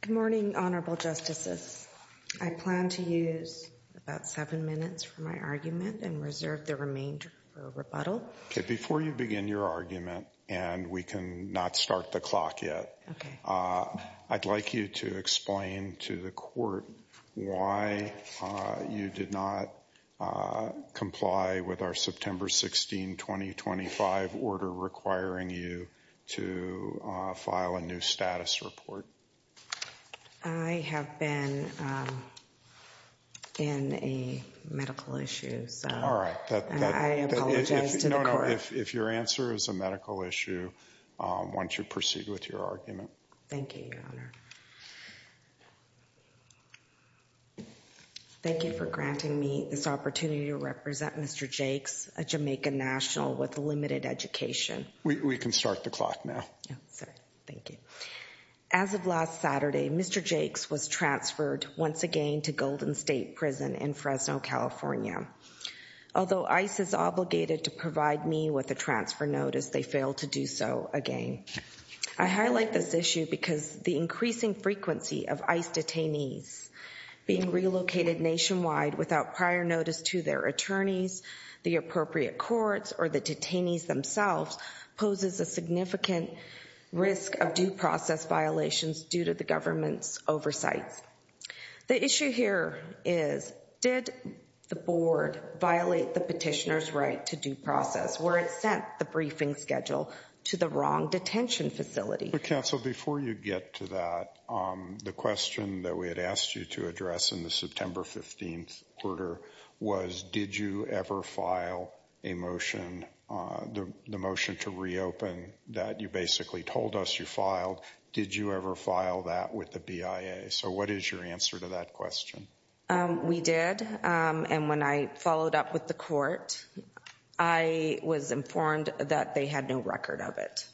Good morning, Honorable Justices. I plan to use about seven minutes for my argument and reserve the remainder for rebuttal. Before you begin your argument, and we can not start the clock yet, I'd like you to explain to the court why you did not comply with our September 16, 2025, order requiring you to file a new status report. I have been in a medical issue, so I apologize to the court. If your answer is a medical issue, why don't you proceed with your argument. Thank you, Your Honor. Thank you for granting me this opportunity to represent Mr. Jakes, a Jamaican national with limited education. We can start the clock now. Thank you. As of last Saturday, Mr. Jakes was transferred once again to Golden State Prison in Fresno, California. Although ICE is obligated to provide me with a transfer notice, they failed to do so again. I highlight this issue because the increasing frequency of ICE detainees being relocated nationwide without prior notice to their attorneys, the appropriate courts, or the detainees themselves poses a significant risk of due process violations due to the government's oversights. The issue here is, did the board violate the petitioner's right to due process? Were it sent the briefing schedule to the wrong detention facility? Counsel, before you get to that, the question that we had asked you to address in the September 15 order was, did you ever file a motion, the motion to reopen that you basically told us you filed, did you ever file that with the BIA? So what is your answer to that question? We did. And when I followed up with the court, I was informed that they had no record of it.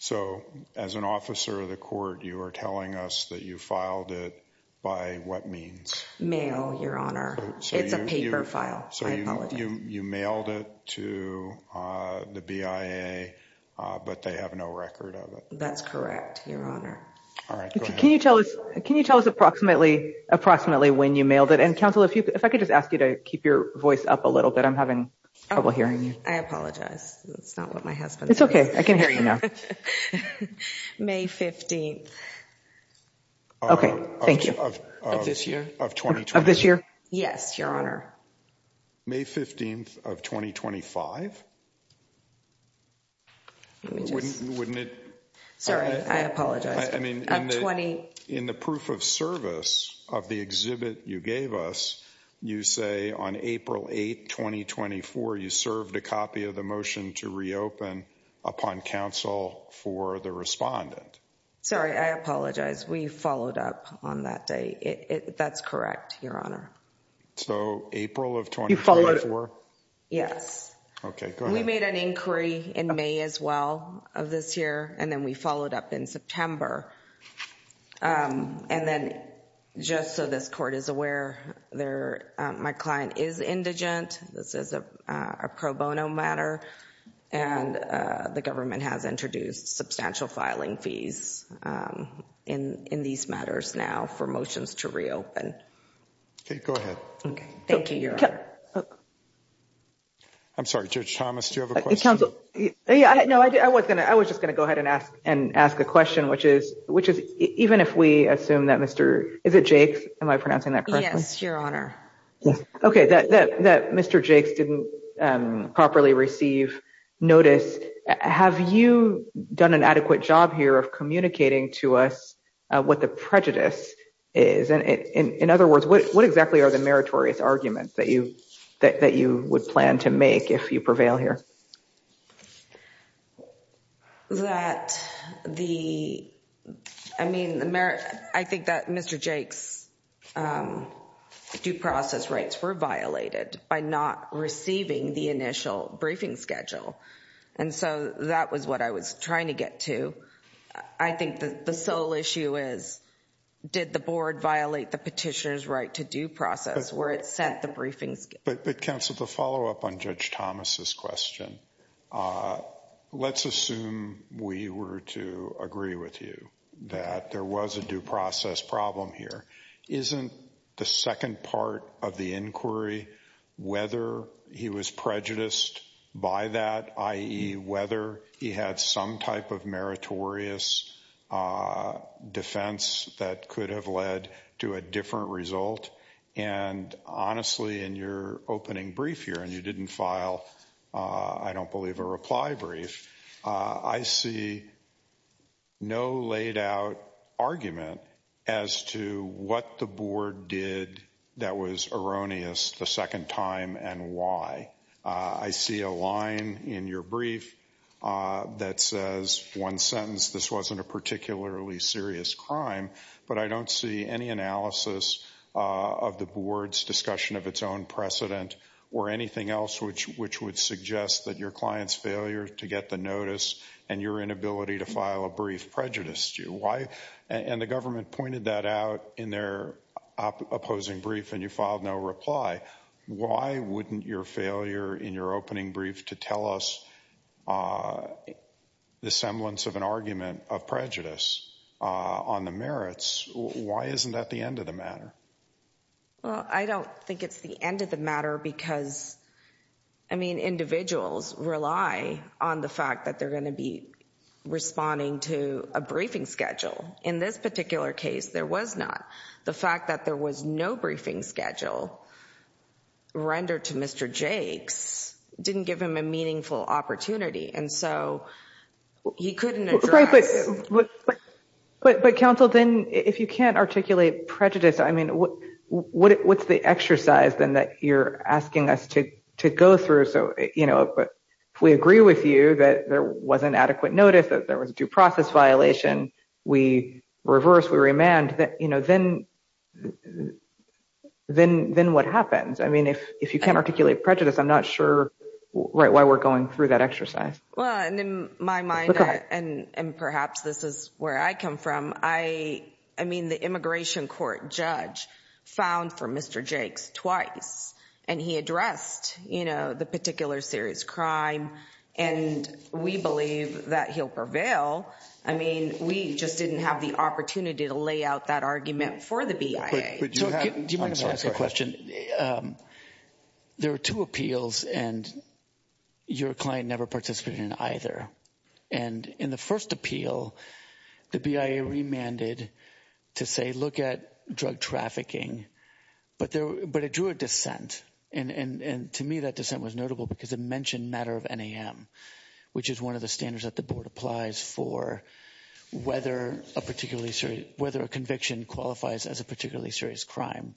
So as an officer of the court, you are telling us that you filed it by what means? Mail, your honor. It's a paper file. So you mailed it to the BIA, but they have no record of it. That's correct, your honor. Can you tell us approximately when you mailed it? And counsel, if I could just ask you to keep your voice up a little bit. I'm having trouble hearing you. I apologize. That's not what my husband says. It's okay. I can hear you now. May 15th. Okay. Thank you. Of this year? Of this year? Yes, your honor. May 15th of 2025? Sorry, I apologize. In the proof of service of the exhibit you gave us, you say on April 8th, 2024, you served a copy of the motion to reopen upon counsel for the respondent. Sorry, I apologize. We followed up on that day. That's correct, your honor. So April of 2024? Yes. Okay, go ahead. We did an inquiry in May as well of this year. And then we followed up in September. And then just so this court is aware, my client is indigent. This is a pro bono matter. And the government has introduced substantial filing fees in these matters now for motions to reopen. Okay, go ahead. Thank you, your honor. I'm sorry, Judge Thomas, do you have a question? No, I was just going to go ahead and ask a question, which is even if we assume that Mr. Is it Jake's? Am I pronouncing that correctly? Yes, your honor. Okay, that Mr. Jake's didn't properly receive notice. Have you done an adequate job here of communicating to us what the prejudice is? In other words, what exactly are the meritorious arguments that you would plan to make if you prevail here? That the, I mean, I think that Mr. Jake's due process rights were violated by not receiving the initial briefing schedule. And so that was what I was trying to get to. I think that the sole issue is, did the board violate the petitioner's right to due process where it sent the briefings? But counsel, the follow up on Judge Thomas's question. Let's assume we were to agree with you that there was a due process problem here. Isn't the second part of the inquiry, whether he was prejudiced by that, i.e., whether he had some type of meritorious defense that could have led to a different result? And honestly, in your opening brief here, and you didn't file, I don't believe, a reply brief. I see no laid out argument as to what the board did that was erroneous the second time and why. I see a line in your brief that says, one sentence, this wasn't a particularly serious crime. But I don't see any analysis of the board's discussion of its own precedent or anything else which would suggest that your client's failure to get the notice and your inability to file a brief prejudiced you. And the government pointed that out in their opposing brief and you filed no reply. Why wouldn't your failure in your opening brief to tell us the semblance of an argument of prejudice on the merits, why isn't that the end of the matter? Well, I don't think it's the end of the matter because, I mean, individuals rely on the fact that they're going to be responding to a briefing schedule. In this particular case, there was not. The fact that there was no briefing schedule rendered to Mr. Jakes didn't give him a meaningful opportunity. And so he couldn't address. But, counsel, then if you can't articulate prejudice, I mean, what's the exercise then that you're asking us to go through? So, you know, but we agree with you that there was an adequate notice that there was a due process violation. We reverse. We remand that, you know, then then then what happens? I mean, if if you can't articulate prejudice, I'm not sure why we're going through that exercise. Well, in my mind and perhaps this is where I come from, I I mean, the immigration court judge found for Mr. Jakes twice and he addressed, you know, the particular serious crime. And we believe that he'll prevail. I mean, we just didn't have the opportunity to lay out that argument for the BIA. But do you mind if I ask a question? There are two appeals and your client never participated in either. And in the first appeal, the BIA remanded to say, look at drug trafficking. But there but it drew a dissent. And to me, that dissent was notable because it mentioned matter of NAM, which is one of the standards that the board applies for, whether a particularly whether a conviction qualifies as a particularly serious crime.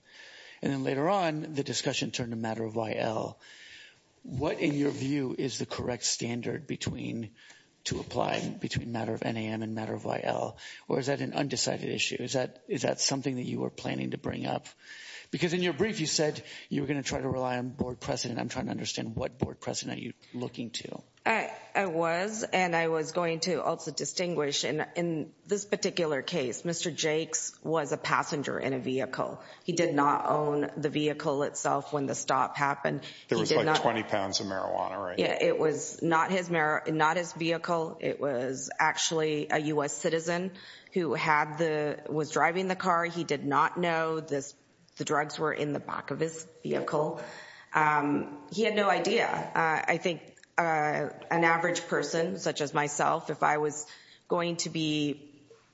And then later on, the discussion turned to matter of YL. What, in your view, is the correct standard between to apply between matter of NAM and matter of YL? Or is that an undecided issue? Is that is that something that you were planning to bring up? Because in your brief, you said you were going to try to rely on board precedent. I'm trying to understand what board precedent you're looking to. I was and I was going to also distinguish. And in this particular case, Mr. Jakes was a passenger in a vehicle. He did not own the vehicle itself. When the stop happened, there was like 20 pounds of marijuana. It was not his not his vehicle. It was actually a U.S. citizen who had the was driving the car. He did not know this. The drugs were in the back of his vehicle. He had no idea. I think an average person such as myself, if I was going to be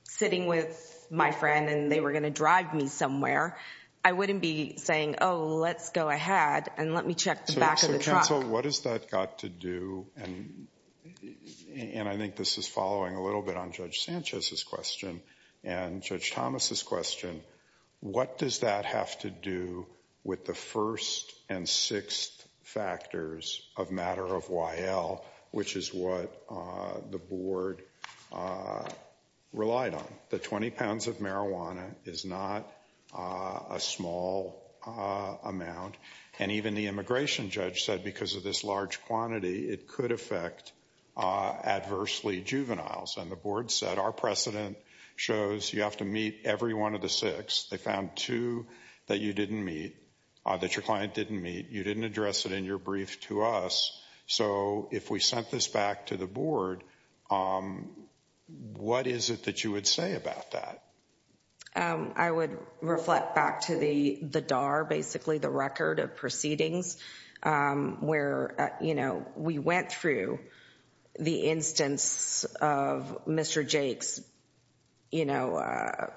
sitting with my friend and they were going to drive me somewhere, I wouldn't be saying, oh, let's go ahead and let me check the back of the truck. So what does that got to do? And I think this is following a little bit on Judge Sanchez's question and Judge Thomas's question. What does that have to do with the first and sixth factors of matter of YL, which is what the board relied on? The 20 pounds of marijuana is not a small amount. And even the immigration judge said because of this large quantity, it could affect adversely juveniles. And the board said our precedent shows you have to meet every one of the six. They found two that you didn't meet, that your client didn't meet. You didn't address it in your brief to us. So if we sent this back to the board, what is it that you would say about that? I would reflect back to the DAR, basically the record of proceedings where, you know, we went through the instance of Mr. Jake's, you know,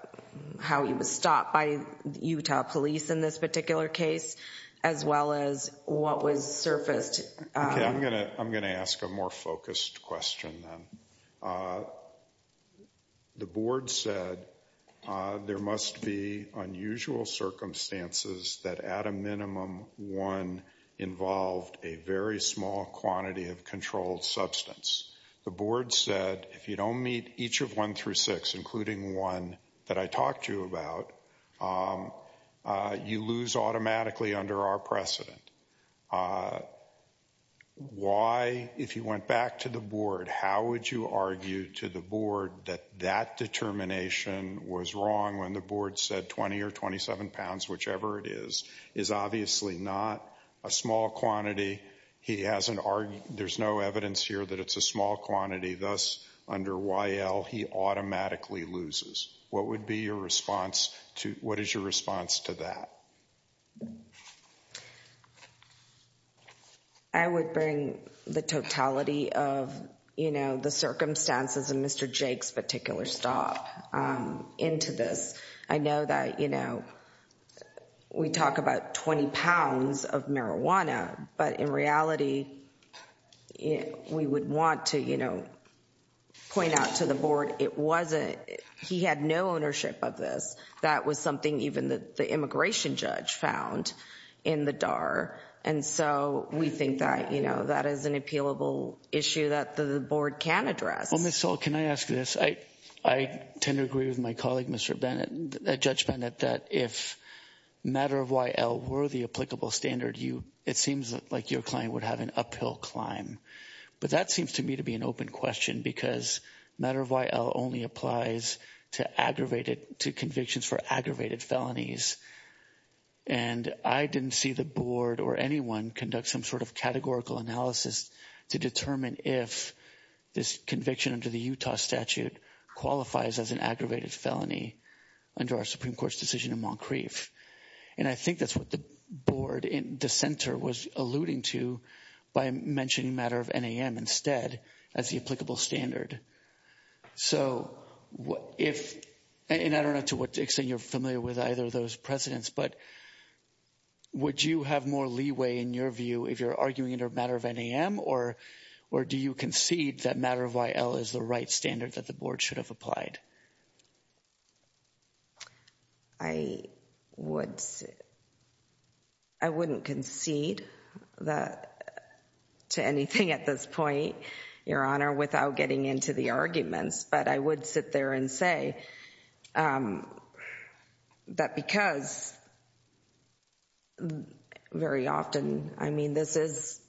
how he was stopped by Utah police in this particular case, as well as what was surfaced. I'm going to ask a more focused question. The board said there must be unusual circumstances that at a minimum one involved a very small quantity of controlled substance. The board said if you don't meet each of one through six, including one that I talked to you about, you lose automatically under our precedent. Why, if you went back to the board, how would you argue to the board that that determination was wrong when the board said 20 or 27 pounds, whichever it is, is obviously not a small quantity. He hasn't argued, there's no evidence here that it's a small quantity. Thus, under YL, he automatically loses. What would be your response to, what is your response to that? I would bring the totality of, you know, the circumstances of Mr. Jake's particular stop into this. I know that, you know, we talk about 20 pounds of marijuana. But in reality, we would want to, you know, point out to the board it wasn't, he had no ownership of this. That was something even the immigration judge found in the DAR. And so we think that, you know, that is an appealable issue that the board can address. Well, Ms. Soll, can I ask this? I tend to agree with my colleague, Judge Bennett, that if Matter of YL were the applicable standard, it seems like your client would have an uphill climb. But that seems to me to be an open question because Matter of YL only applies to aggravated, to convictions for aggravated felonies. And I didn't see the board or anyone conduct some sort of categorical analysis to determine if this conviction under the Utah statute qualifies as an aggravated felony under our Supreme Court's decision in Moncrief. And I think that's what the board in the center was alluding to by mentioning Matter of NAM instead as the applicable standard. So if, and I don't know to what extent you're familiar with either of those precedents, but would you have more leeway in your view if you're arguing under Matter of NAM? Or do you concede that Matter of YL is the right standard that the board should have applied? I wouldn't concede that to anything at this point, Your Honor, without getting into the arguments. But I would sit there and say that because very often, I mean, this is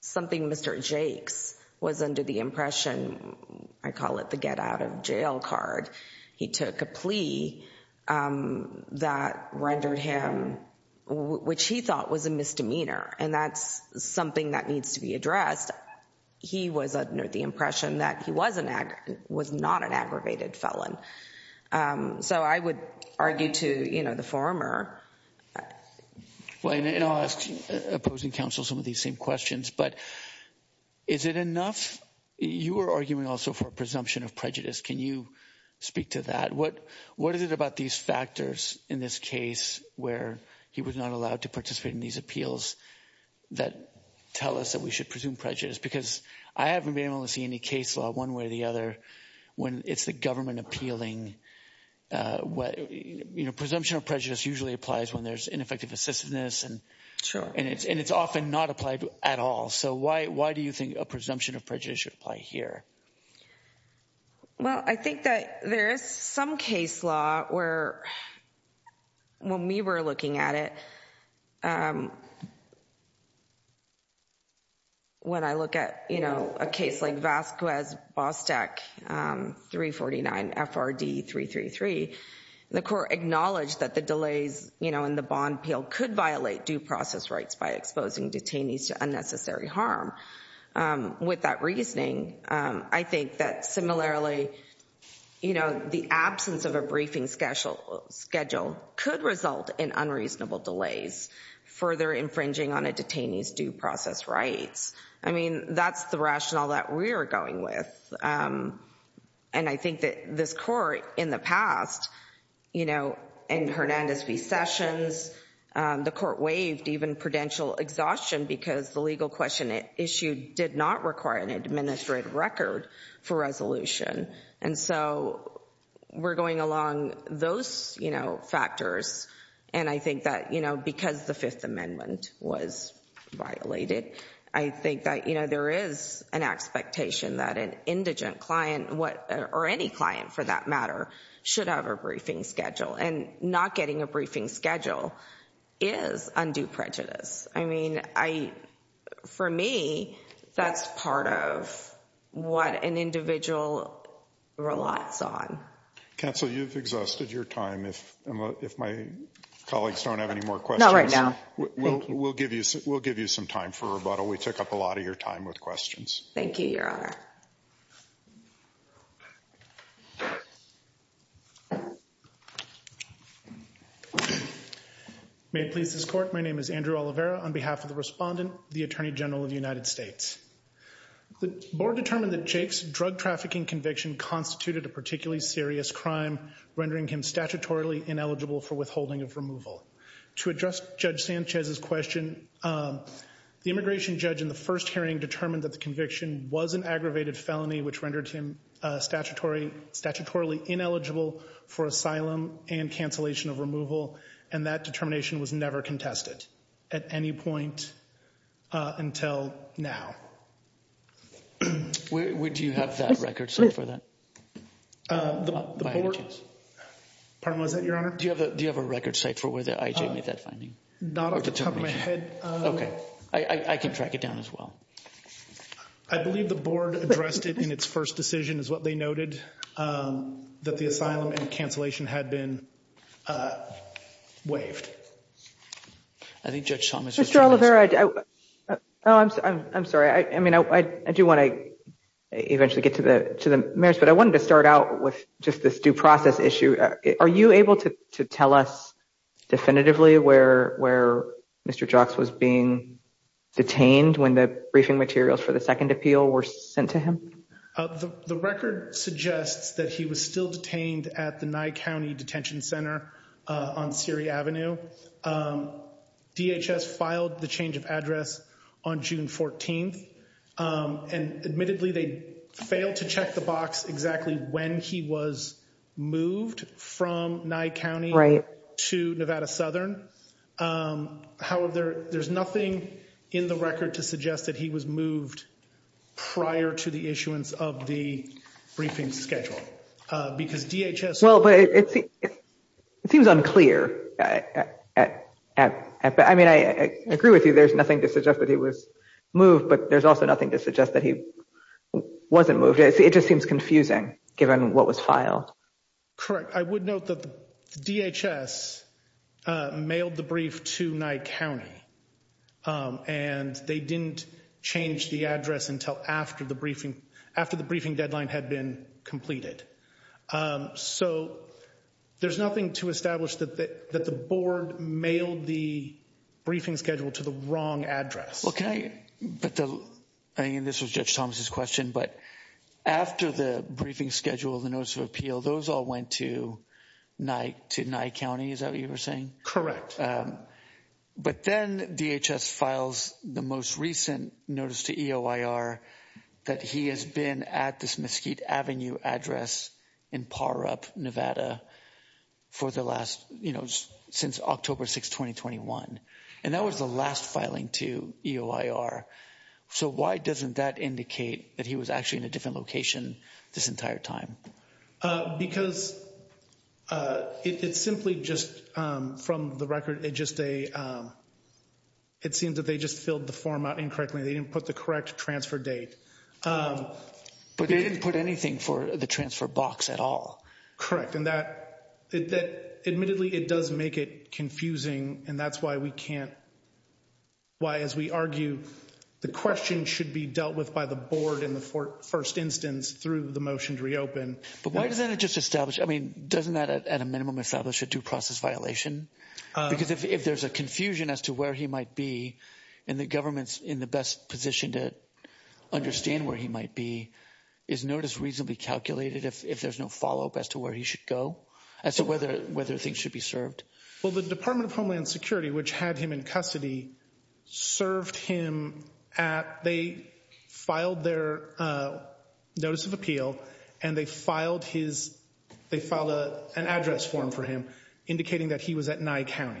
something Mr. Jakes was under the impression, I call it the get out of jail card. He took a plea that rendered him, which he thought was a misdemeanor. And that's something that needs to be addressed. He was under the impression that he was not an aggravated felon. So I would argue to the former. And I'll ask opposing counsel some of these same questions. But is it enough? You were arguing also for a presumption of prejudice. Can you speak to that? What is it about these factors in this case where he was not allowed to participate in these appeals that tell us that we should presume prejudice? Because I haven't been able to see any case law one way or the other when it's the government appealing. Presumption of prejudice usually applies when there's ineffective assistiveness, and it's often not applied at all. So why do you think a presumption of prejudice should apply here? Well, I think that there is some case law where, when we were looking at it, when I look at a case like Vasquez-Bostak 349 FRD 333, the court acknowledged that the delays in the bond appeal could violate due process rights by exposing detainees to unnecessary harm. With that reasoning, I think that, similarly, the absence of a briefing schedule could result in unreasonable delays, further infringing on a detainee's due process rights. I mean, that's the rationale that we're going with. And I think that this court, in the past, in Hernandez v. Sessions, the court waived even prudential exhaustion because the legal question it issued did not require an administrative record for resolution. And so we're going along those factors. And I think that, you know, because the Fifth Amendment was violated, I think that, you know, there is an expectation that an indigent client or any client, for that matter, should have a briefing schedule. And not getting a briefing schedule is undue prejudice. I mean, for me, that's part of what an individual relies on. Counsel, you've exhausted your time. If my colleagues don't have any more questions right now, we'll give you some time for rebuttal. We took up a lot of your time with questions. Thank you, Your Honor. May it please this court. My name is Andrew Olivera on behalf of the respondent, the Attorney General of the United States. The board determined that Jake's drug trafficking conviction constituted a particularly serious crime, rendering him statutorily ineligible for withholding of removal. To address Judge Sanchez's question, the immigration judge in the first hearing determined that the conviction was an aggravated felony, which rendered him statutorily ineligible for asylum and cancellation of removal. And that determination was never contested at any point until now. Do you have that record set for that? Pardon me, was that your honor? Do you have a record set for where the IJ made that finding? Not off the top of my head. Okay, I can track it down as well. I believe the board addressed it in its first decision is what they noted that the asylum and cancellation had been waived. I think Judge Thomas. I'm sorry. I mean, I do want to eventually get to the to the marriage, but I wanted to start out with just this due process issue. Are you able to tell us definitively where where Mr. Jocks was being detained when the briefing materials for the second appeal were sent to him? The record suggests that he was still detained at the night County Detention Center on Siri Avenue. DHS filed the change of address on June 14th. And admittedly, they failed to check the box exactly when he was moved from my county to Nevada Southern. However, there's nothing in the record to suggest that he was moved prior to the issuance of the briefing schedule because DHS. Well, but it seems unclear. I mean, I agree with you. There's nothing to suggest that he was moved, but there's also nothing to suggest that he wasn't moved. It just seems confusing, given what was filed. Correct. I would note that the DHS mailed the brief to my county. And they didn't change the address until after the briefing after the briefing deadline had been completed. So there's nothing to establish that that the board mailed the briefing schedule to the wrong address. OK, but I mean, this was Judge Thomas's question, but after the briefing schedule, the notice of appeal, those all went to night to night county. Is that what you were saying? Correct. But then DHS files the most recent notice to EOIR that he has been at this Mesquite Avenue address in par up Nevada for the last since October 6, 2021. And that was the last filing to EOIR. So why doesn't that indicate that he was actually in a different location this entire time? Because it's simply just from the record. It just a it seems that they just filled the form out incorrectly. They didn't put the correct transfer date, but they didn't put anything for the transfer box at all. Correct. And that admittedly, it does make it confusing. And that's why we can't. Why, as we argue, the question should be dealt with by the board in the first instance through the motion to reopen. But why doesn't it just establish I mean, doesn't that at a minimum establish a due process violation? Because if there's a confusion as to where he might be in the government's in the best position to understand where he might be, is notice reasonably calculated if there's no follow up as to where he should go as to whether whether things should be served? Well, the Department of Homeland Security, which had him in custody, served him at they filed their notice of appeal and they filed his they filed an address form for him, indicating that he was at Nye County.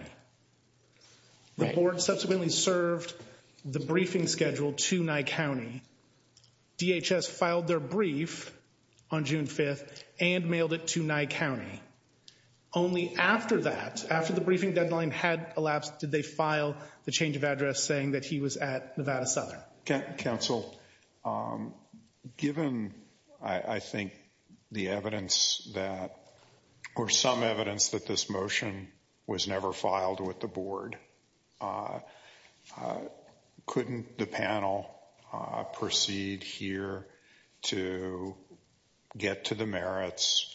The board subsequently served the briefing schedule to Nye County. DHS filed their brief on June 5th and mailed it to Nye County. Only after that, after the briefing deadline had elapsed, did they file the change of address, saying that he was at Nevada Southern Council? Given, I think, the evidence that or some evidence that this motion was never filed with the board, couldn't the panel proceed here to get to the merits,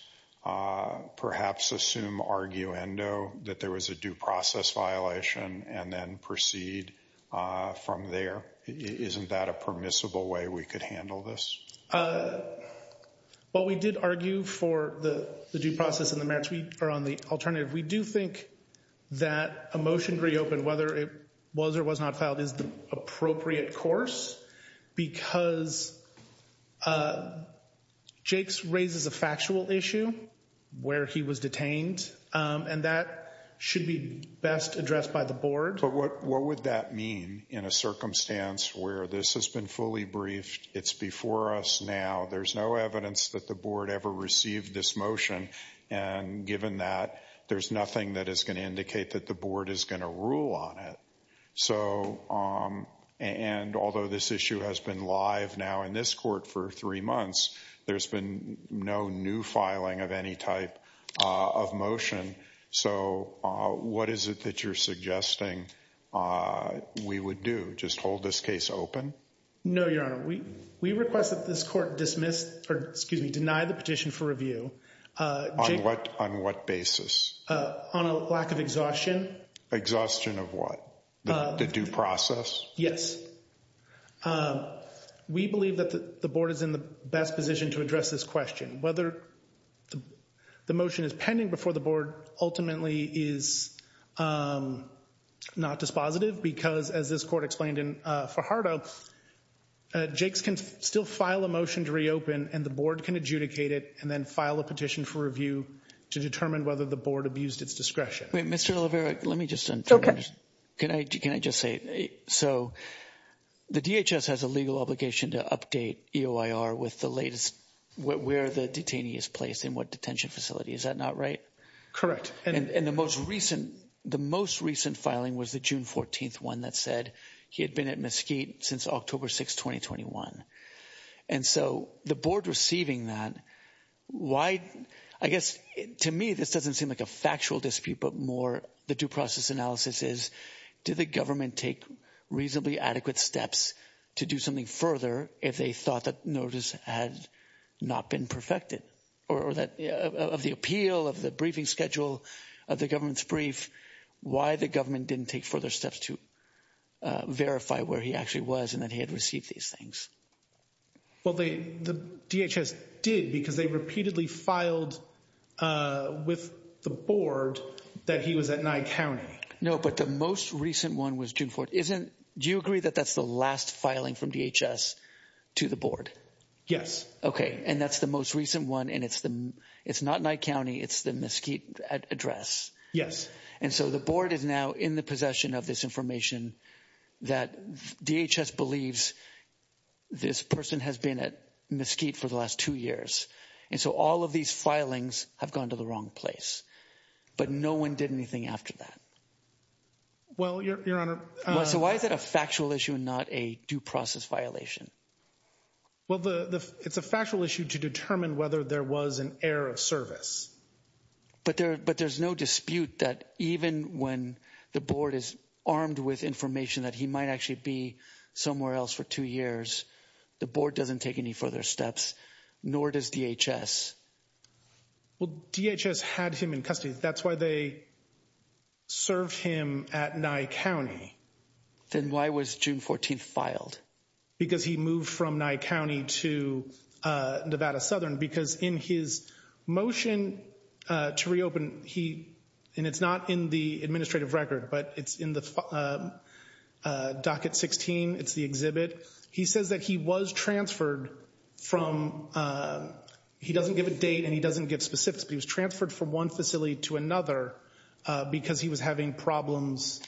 perhaps assume arguendo that there was a due process violation and then proceed from there? Isn't that a permissible way we could handle this? Well, we did argue for the due process and the merits. We are on the alternative. We do think that a motion to reopen, whether it was or was not filed, is the appropriate course because Jake's raises a factual issue where he was detained, and that should be best addressed by the board. But what what would that mean in a circumstance where this has been fully briefed? It's before us now. There's no evidence that the board ever received this motion. And given that, there's nothing that is going to indicate that the board is going to rule on it. So and although this issue has been live now in this court for three months, there's been no new filing of any type of motion. So what is it that you're suggesting we would do? Just hold this case open. No, Your Honor, we we request that this court dismissed or excuse me, deny the petition for review. On what basis? On a lack of exhaustion. Exhaustion of what? The due process. Yes. We believe that the board is in the best position to address this question. Whether the motion is pending before the board ultimately is not dispositive because, as this court explained in Fajardo, Jake's can still file a motion to reopen and the board can adjudicate it and then file a petition for review to determine whether the board abused its discretion. Mr. Olivera, let me just say, so the DHS has a legal obligation to update EOIR with the latest, where the detainee is placed and what detention facility. Is that not right? Correct. And the most recent the most recent filing was the June 14th one that said he had been at Mesquite since October 6, 2021. And so the board receiving that wide, I guess to me, this doesn't seem like a factual dispute, but more the due process analysis is did the government take reasonably adequate steps to do something further if they thought that notice had not been perfected or that of the appeal of the briefing schedule of the government's brief. Why the government didn't take further steps to verify where he actually was and that he had received these things. Well, the DHS did because they repeatedly filed with the board that he was at Nye County. No, but the most recent one was June 4th. Isn't do you agree that that's the last filing from DHS to the board? Yes. Okay. And that's the most recent one. And it's the it's not Nye County. It's the Mesquite address. Yes. And so the board is now in the possession of this information that DHS believes this person has been at Mesquite for the last two years. And so all of these filings have gone to the wrong place, but no one did anything after that. Well, Your Honor. So why is it a factual issue and not a due process violation? Well, it's a factual issue to determine whether there was an error of service. But there but there's no dispute that even when the board is armed with information that he might actually be somewhere else for two years, the board doesn't take any further steps, nor does DHS. Well, DHS had him in custody. That's why they served him at Nye County. Then why was June 14th filed? Because he moved from Nye County to Nevada Southern because in his motion to reopen he and it's not in the administrative record, but it's in the docket 16. It's the exhibit. He says that he was transferred from he doesn't give a date and he doesn't give specifics, but he was transferred from one facility to another because he was having problems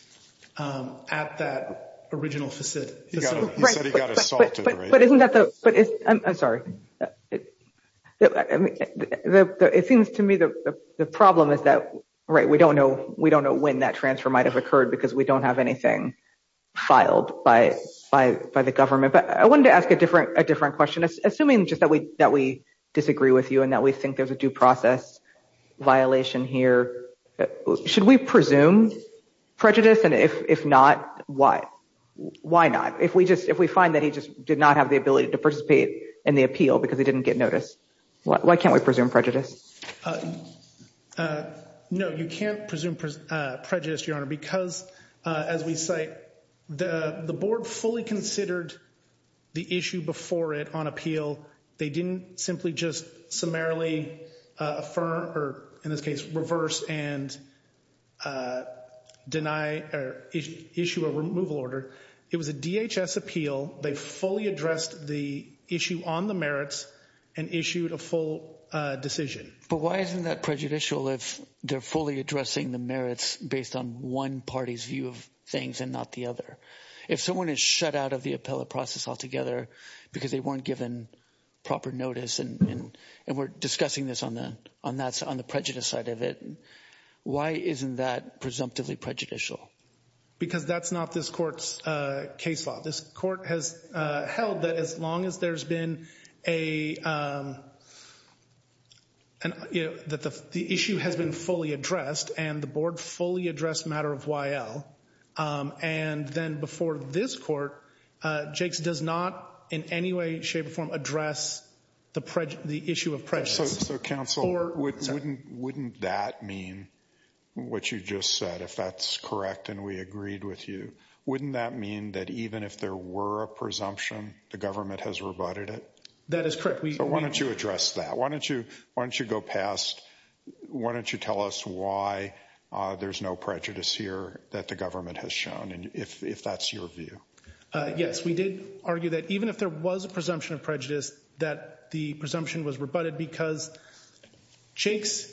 at that original facility. He said he got assaulted. But isn't that the but I'm sorry. It seems to me that the problem is that, right, we don't know. We don't know when that transfer might have occurred because we don't have anything filed by by by the government. But I wanted to ask a different a different question. Assuming just that we that we disagree with you and that we think there's a due process violation here, should we presume prejudice? And if not, why? Why not? If we just if we find that he just did not have the ability to participate in the appeal because he didn't get notice, why can't we presume prejudice? No, you can't presume prejudice, your honor, because, as we say, the board fully considered the issue before it on appeal. They didn't simply just summarily affirm or, in this case, reverse and deny or issue a removal order. It was a DHS appeal. They fully addressed the issue on the merits and issued a full decision. But why isn't that prejudicial if they're fully addressing the merits based on one party's view of things and not the other? If someone is shut out of the appellate process altogether because they weren't given proper notice and we're discussing this on the on that's on the prejudice side of it. Why isn't that presumptively prejudicial? Because that's not this court's case law. This court has held that as long as there's been a. And that the issue has been fully addressed and the board fully addressed matter of why. And then before this court, Jake's does not in any way, shape or form address the the issue of prejudice. So counsel or wouldn't wouldn't that mean what you just said, if that's correct? And we agreed with you. Wouldn't that mean that even if there were a presumption, the government has rebutted it? That is correct. Why don't you address that? Why don't you? Why don't you go past? Why don't you tell us why there's no prejudice here that the government has shown? And if that's your view, yes, we did argue that even if there was a presumption of prejudice, that the presumption was rebutted because Jake's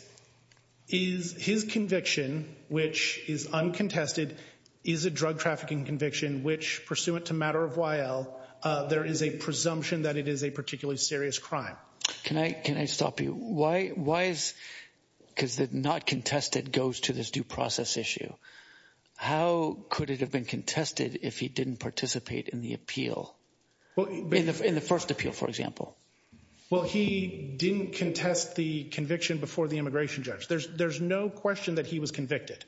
is his conviction, which is uncontested, is a drug trafficking conviction, which pursuant to matter of while there is a presumption that it is a particularly serious crime. Can I can I stop you? Why? Because that not contested goes to this due process issue. How could it have been contested if he didn't participate in the appeal in the first appeal, for example? Well, he didn't contest the conviction before the immigration judge. There's there's no question that he was convicted.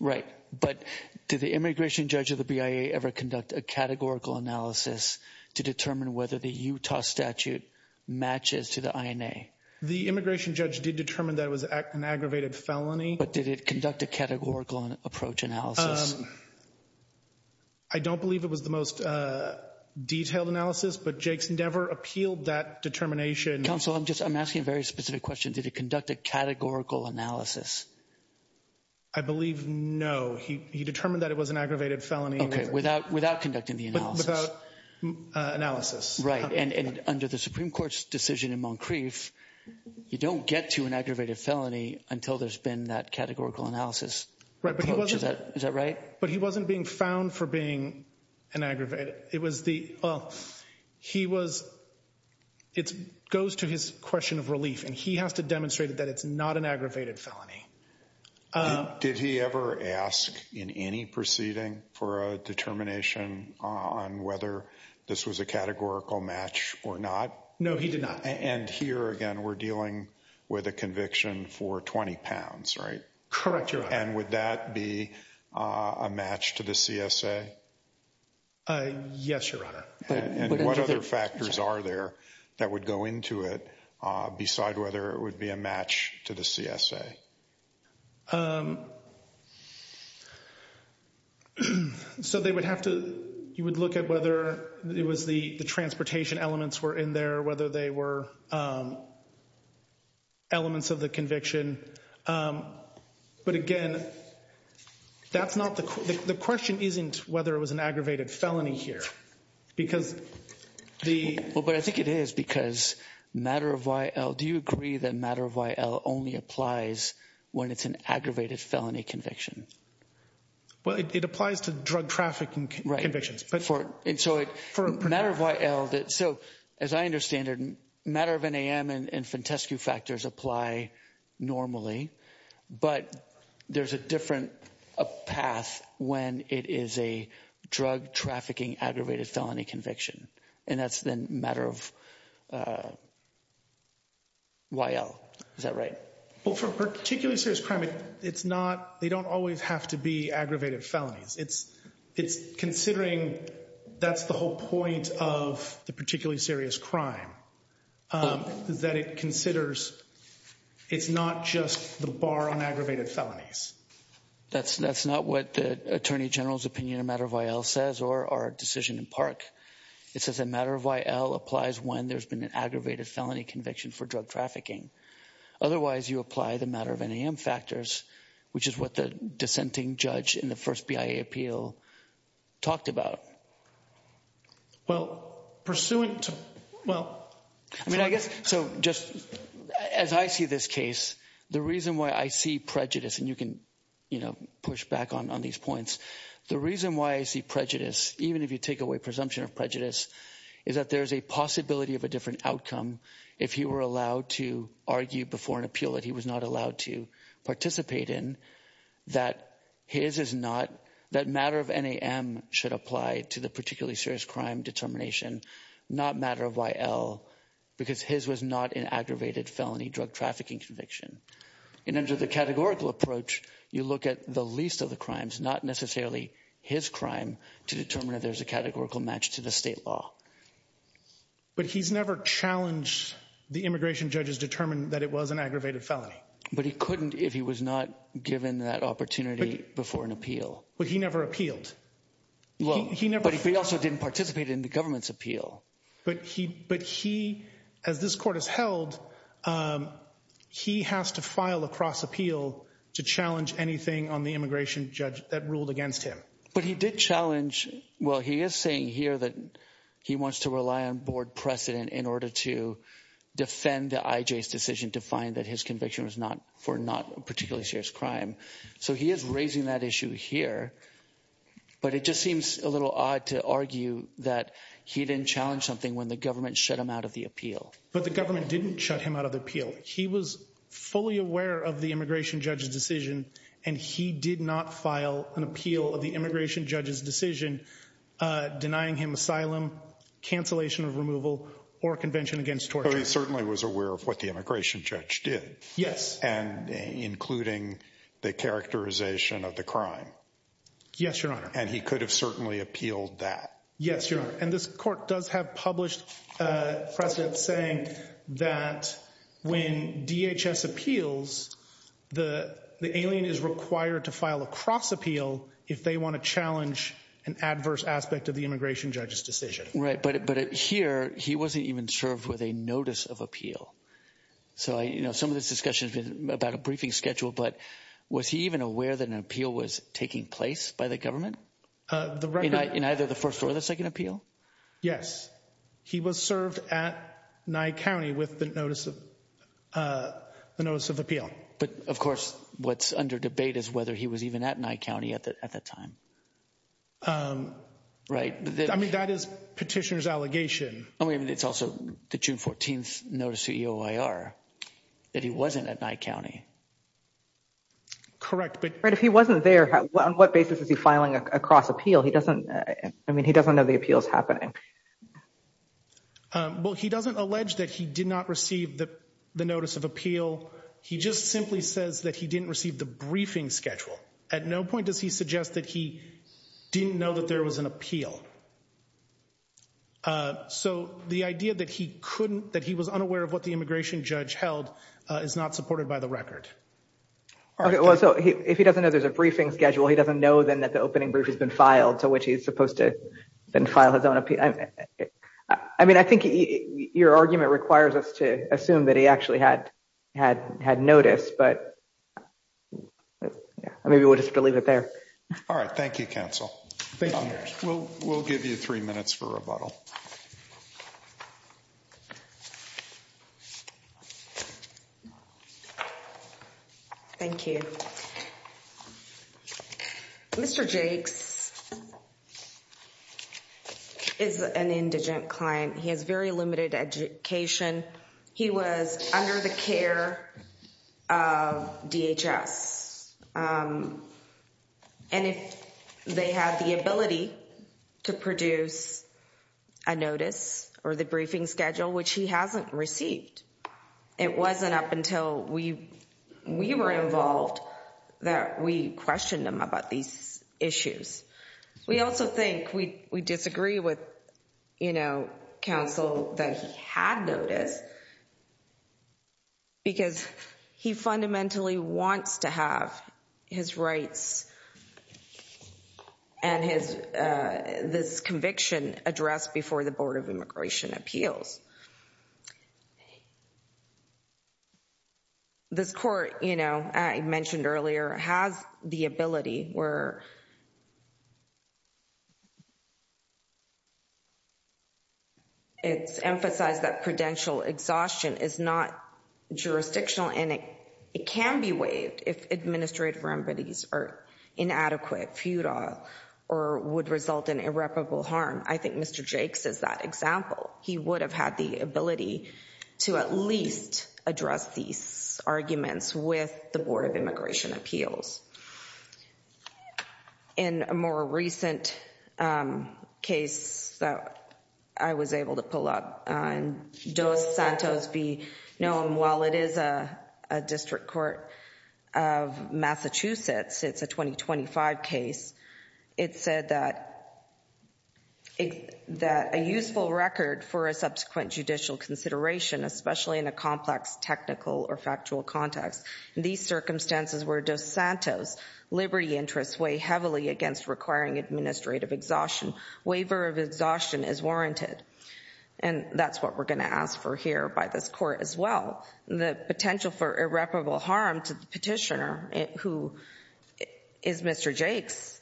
Right. But did the immigration judge of the BIA ever conduct a categorical analysis to determine whether the Utah statute matches to the INA? The immigration judge did determine that it was an aggravated felony. But did it conduct a categorical approach analysis? I don't believe it was the most detailed analysis, but Jake's never appealed that determination. Counsel, I'm just I'm asking a very specific question. Did it conduct a categorical analysis? I believe no. He determined that it was an aggravated felony without without conducting the analysis. Right. And under the Supreme Court's decision in Moncrief, you don't get to an aggravated felony until there's been that categorical analysis. Right. But was that is that right? But he wasn't being found for being an aggravated. It was the he was it goes to his question of relief and he has to demonstrate that it's not an aggravated felony. Did he ever ask in any proceeding for a determination on whether this was a categorical match or not? No, he did not. And here again, we're dealing with a conviction for 20 pounds. Right. Correct. And would that be a match to the CSA? Yes, Your Honor. And what other factors are there that would go into it? Beside whether it would be a match to the CSA. So they would have to you would look at whether it was the transportation elements were in there, whether they were. Elements of the conviction. But again, that's not the question. Isn't whether it was an aggravated felony here because the. Well, but I think it is because matter of why. Do you agree that matter of why only applies when it's an aggravated felony conviction? Well, it applies to drug trafficking convictions. For a matter of why. So as I understand it, matter of NAM and Fentescu factors apply normally. But there's a different path when it is a drug trafficking, aggravated felony conviction. And that's the matter of why. Is that right? Well, for particularly serious crime, it's not they don't always have to be aggravated felonies. It's it's considering that's the whole point of the particularly serious crime that it considers. It's not just the bar on aggravated felonies. That's that's not what the attorney general's opinion, a matter of why L says or our decision in park. It's as a matter of why L applies when there's been an aggravated felony conviction for drug trafficking. Otherwise, you apply the matter of NAM factors, which is what the dissenting judge in the first BIA appeal talked about. Well, pursuant to well, I mean, I guess so just as I see this case, the reason why I see prejudice and you can push back on these points. The reason why I see prejudice, even if you take away presumption of prejudice, is that there is a possibility of a different outcome. If you were allowed to argue before an appeal that he was not allowed to participate in that his is not that matter of NAM should apply to the particularly serious crime determination. Not matter of why L, because his was not an aggravated felony drug trafficking conviction. And under the categorical approach, you look at the least of the crimes, not necessarily his crime to determine if there's a categorical match to the state law. But he's never challenged the immigration judges determined that it was an aggravated felony. But he couldn't if he was not given that opportunity before an appeal. But he never appealed. Well, he never but he also didn't participate in the government's appeal. But he but he as this court is held, he has to file a cross appeal to challenge anything on the immigration judge that ruled against him. But he did challenge. Well, he is saying here that he wants to rely on board precedent in order to defend the decision to find that his conviction was not for not particularly serious crime. So he is raising that issue here. But it just seems a little odd to argue that he didn't challenge something when the government shut him out of the appeal. But the government didn't shut him out of the appeal. He was fully aware of the immigration judge's decision. And he did not file an appeal of the immigration judge's decision denying him asylum, cancellation of removal or convention against torture. So he certainly was aware of what the immigration judge did. Yes. And including the characterization of the crime. Yes, Your Honor. And he could have certainly appealed that. Yes, Your Honor. And this court does have published precedent saying that when DHS appeals, the alien is required to file a cross appeal if they want to challenge an adverse aspect of the immigration judge's decision. Right. Right. But but here he wasn't even served with a notice of appeal. So, you know, some of this discussion has been about a briefing schedule. But was he even aware that an appeal was taking place by the government? In either the first or the second appeal? Yes. He was served at Nye County with the notice of the notice of appeal. But of course, what's under debate is whether he was even at Nye County at that time. Right. I mean, that is petitioner's allegation. It's also the June 14th notice to EOIR that he wasn't at Nye County. Correct. But if he wasn't there, on what basis is he filing a cross appeal? He doesn't I mean, he doesn't know the appeal is happening. Well, he doesn't allege that he did not receive the notice of appeal. He just simply says that he didn't receive the briefing schedule. At no point does he suggest that he didn't know that there was an appeal. So the idea that he couldn't that he was unaware of what the immigration judge held is not supported by the record. Well, so if he doesn't know there's a briefing schedule, he doesn't know then that the opening brief has been filed to which he is supposed to file his own appeal. I mean, I think your argument requires us to assume that he actually had had had notice, but maybe we'll just leave it there. All right. Thank you, counsel. We'll we'll give you three minutes for rebuttal. Thank you. Mr. Jakes is an indigent client. He has very limited education. He was under the care of DHS. And if they had the ability to produce a notice or the briefing schedule, which he hasn't received, it wasn't up until we we were involved that we questioned him about these issues. We also think we we disagree with, you know, counsel that he had noticed. Because he fundamentally wants to have his rights and his this conviction addressed before the Board of Immigration Appeals. This court, you know, I mentioned earlier, has the ability where it's emphasized that prudential exhaustion is not jurisdictional and it can be waived if administrative remedies are inadequate, futile or would result in irreparable harm. I think Mr. Jakes is that example. He would have had the ability to at least address these arguments with the Board of Immigration Appeals. In a more recent case that I was able to pull up, Dos Santos v. Noam, while it is a district court of Massachusetts, it's a 2025 case. It said that a useful record for a subsequent judicial consideration, especially in a complex technical or factual context, in these circumstances where Dos Santos' liberty interests weigh heavily against requiring administrative exhaustion, waiver of exhaustion is warranted. And that's what we're going to ask for here by this court as well. The potential for irreparable harm to the petitioner, who is Mr. Jakes,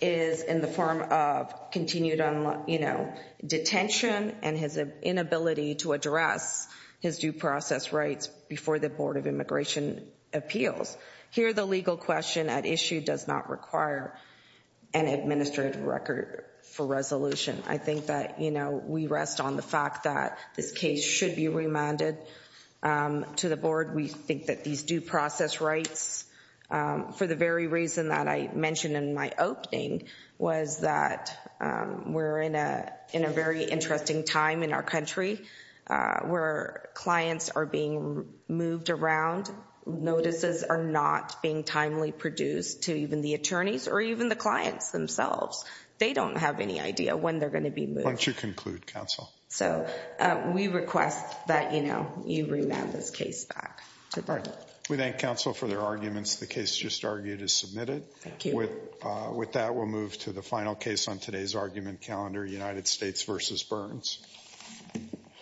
is in the form of continued, you know, detention and his inability to address his due process rights before the Board of Immigration Appeals. Here, the legal question at issue does not require an administrative record for resolution. I think that, you know, we rest on the fact that this case should be remanded to the Board. We think that these due process rights, for the very reason that I mentioned in my opening, was that we're in a very interesting time in our country where clients are being moved around. Notices are not being timely produced to even the attorneys or even the clients themselves. They don't have any idea when they're going to be moved. Why don't you conclude, counsel? So, we request that, you know, you remand this case back to the Board. We thank counsel for their arguments. The case just argued is submitted. With that, we'll move to the final case on today's argument calendar, United States v. Burns.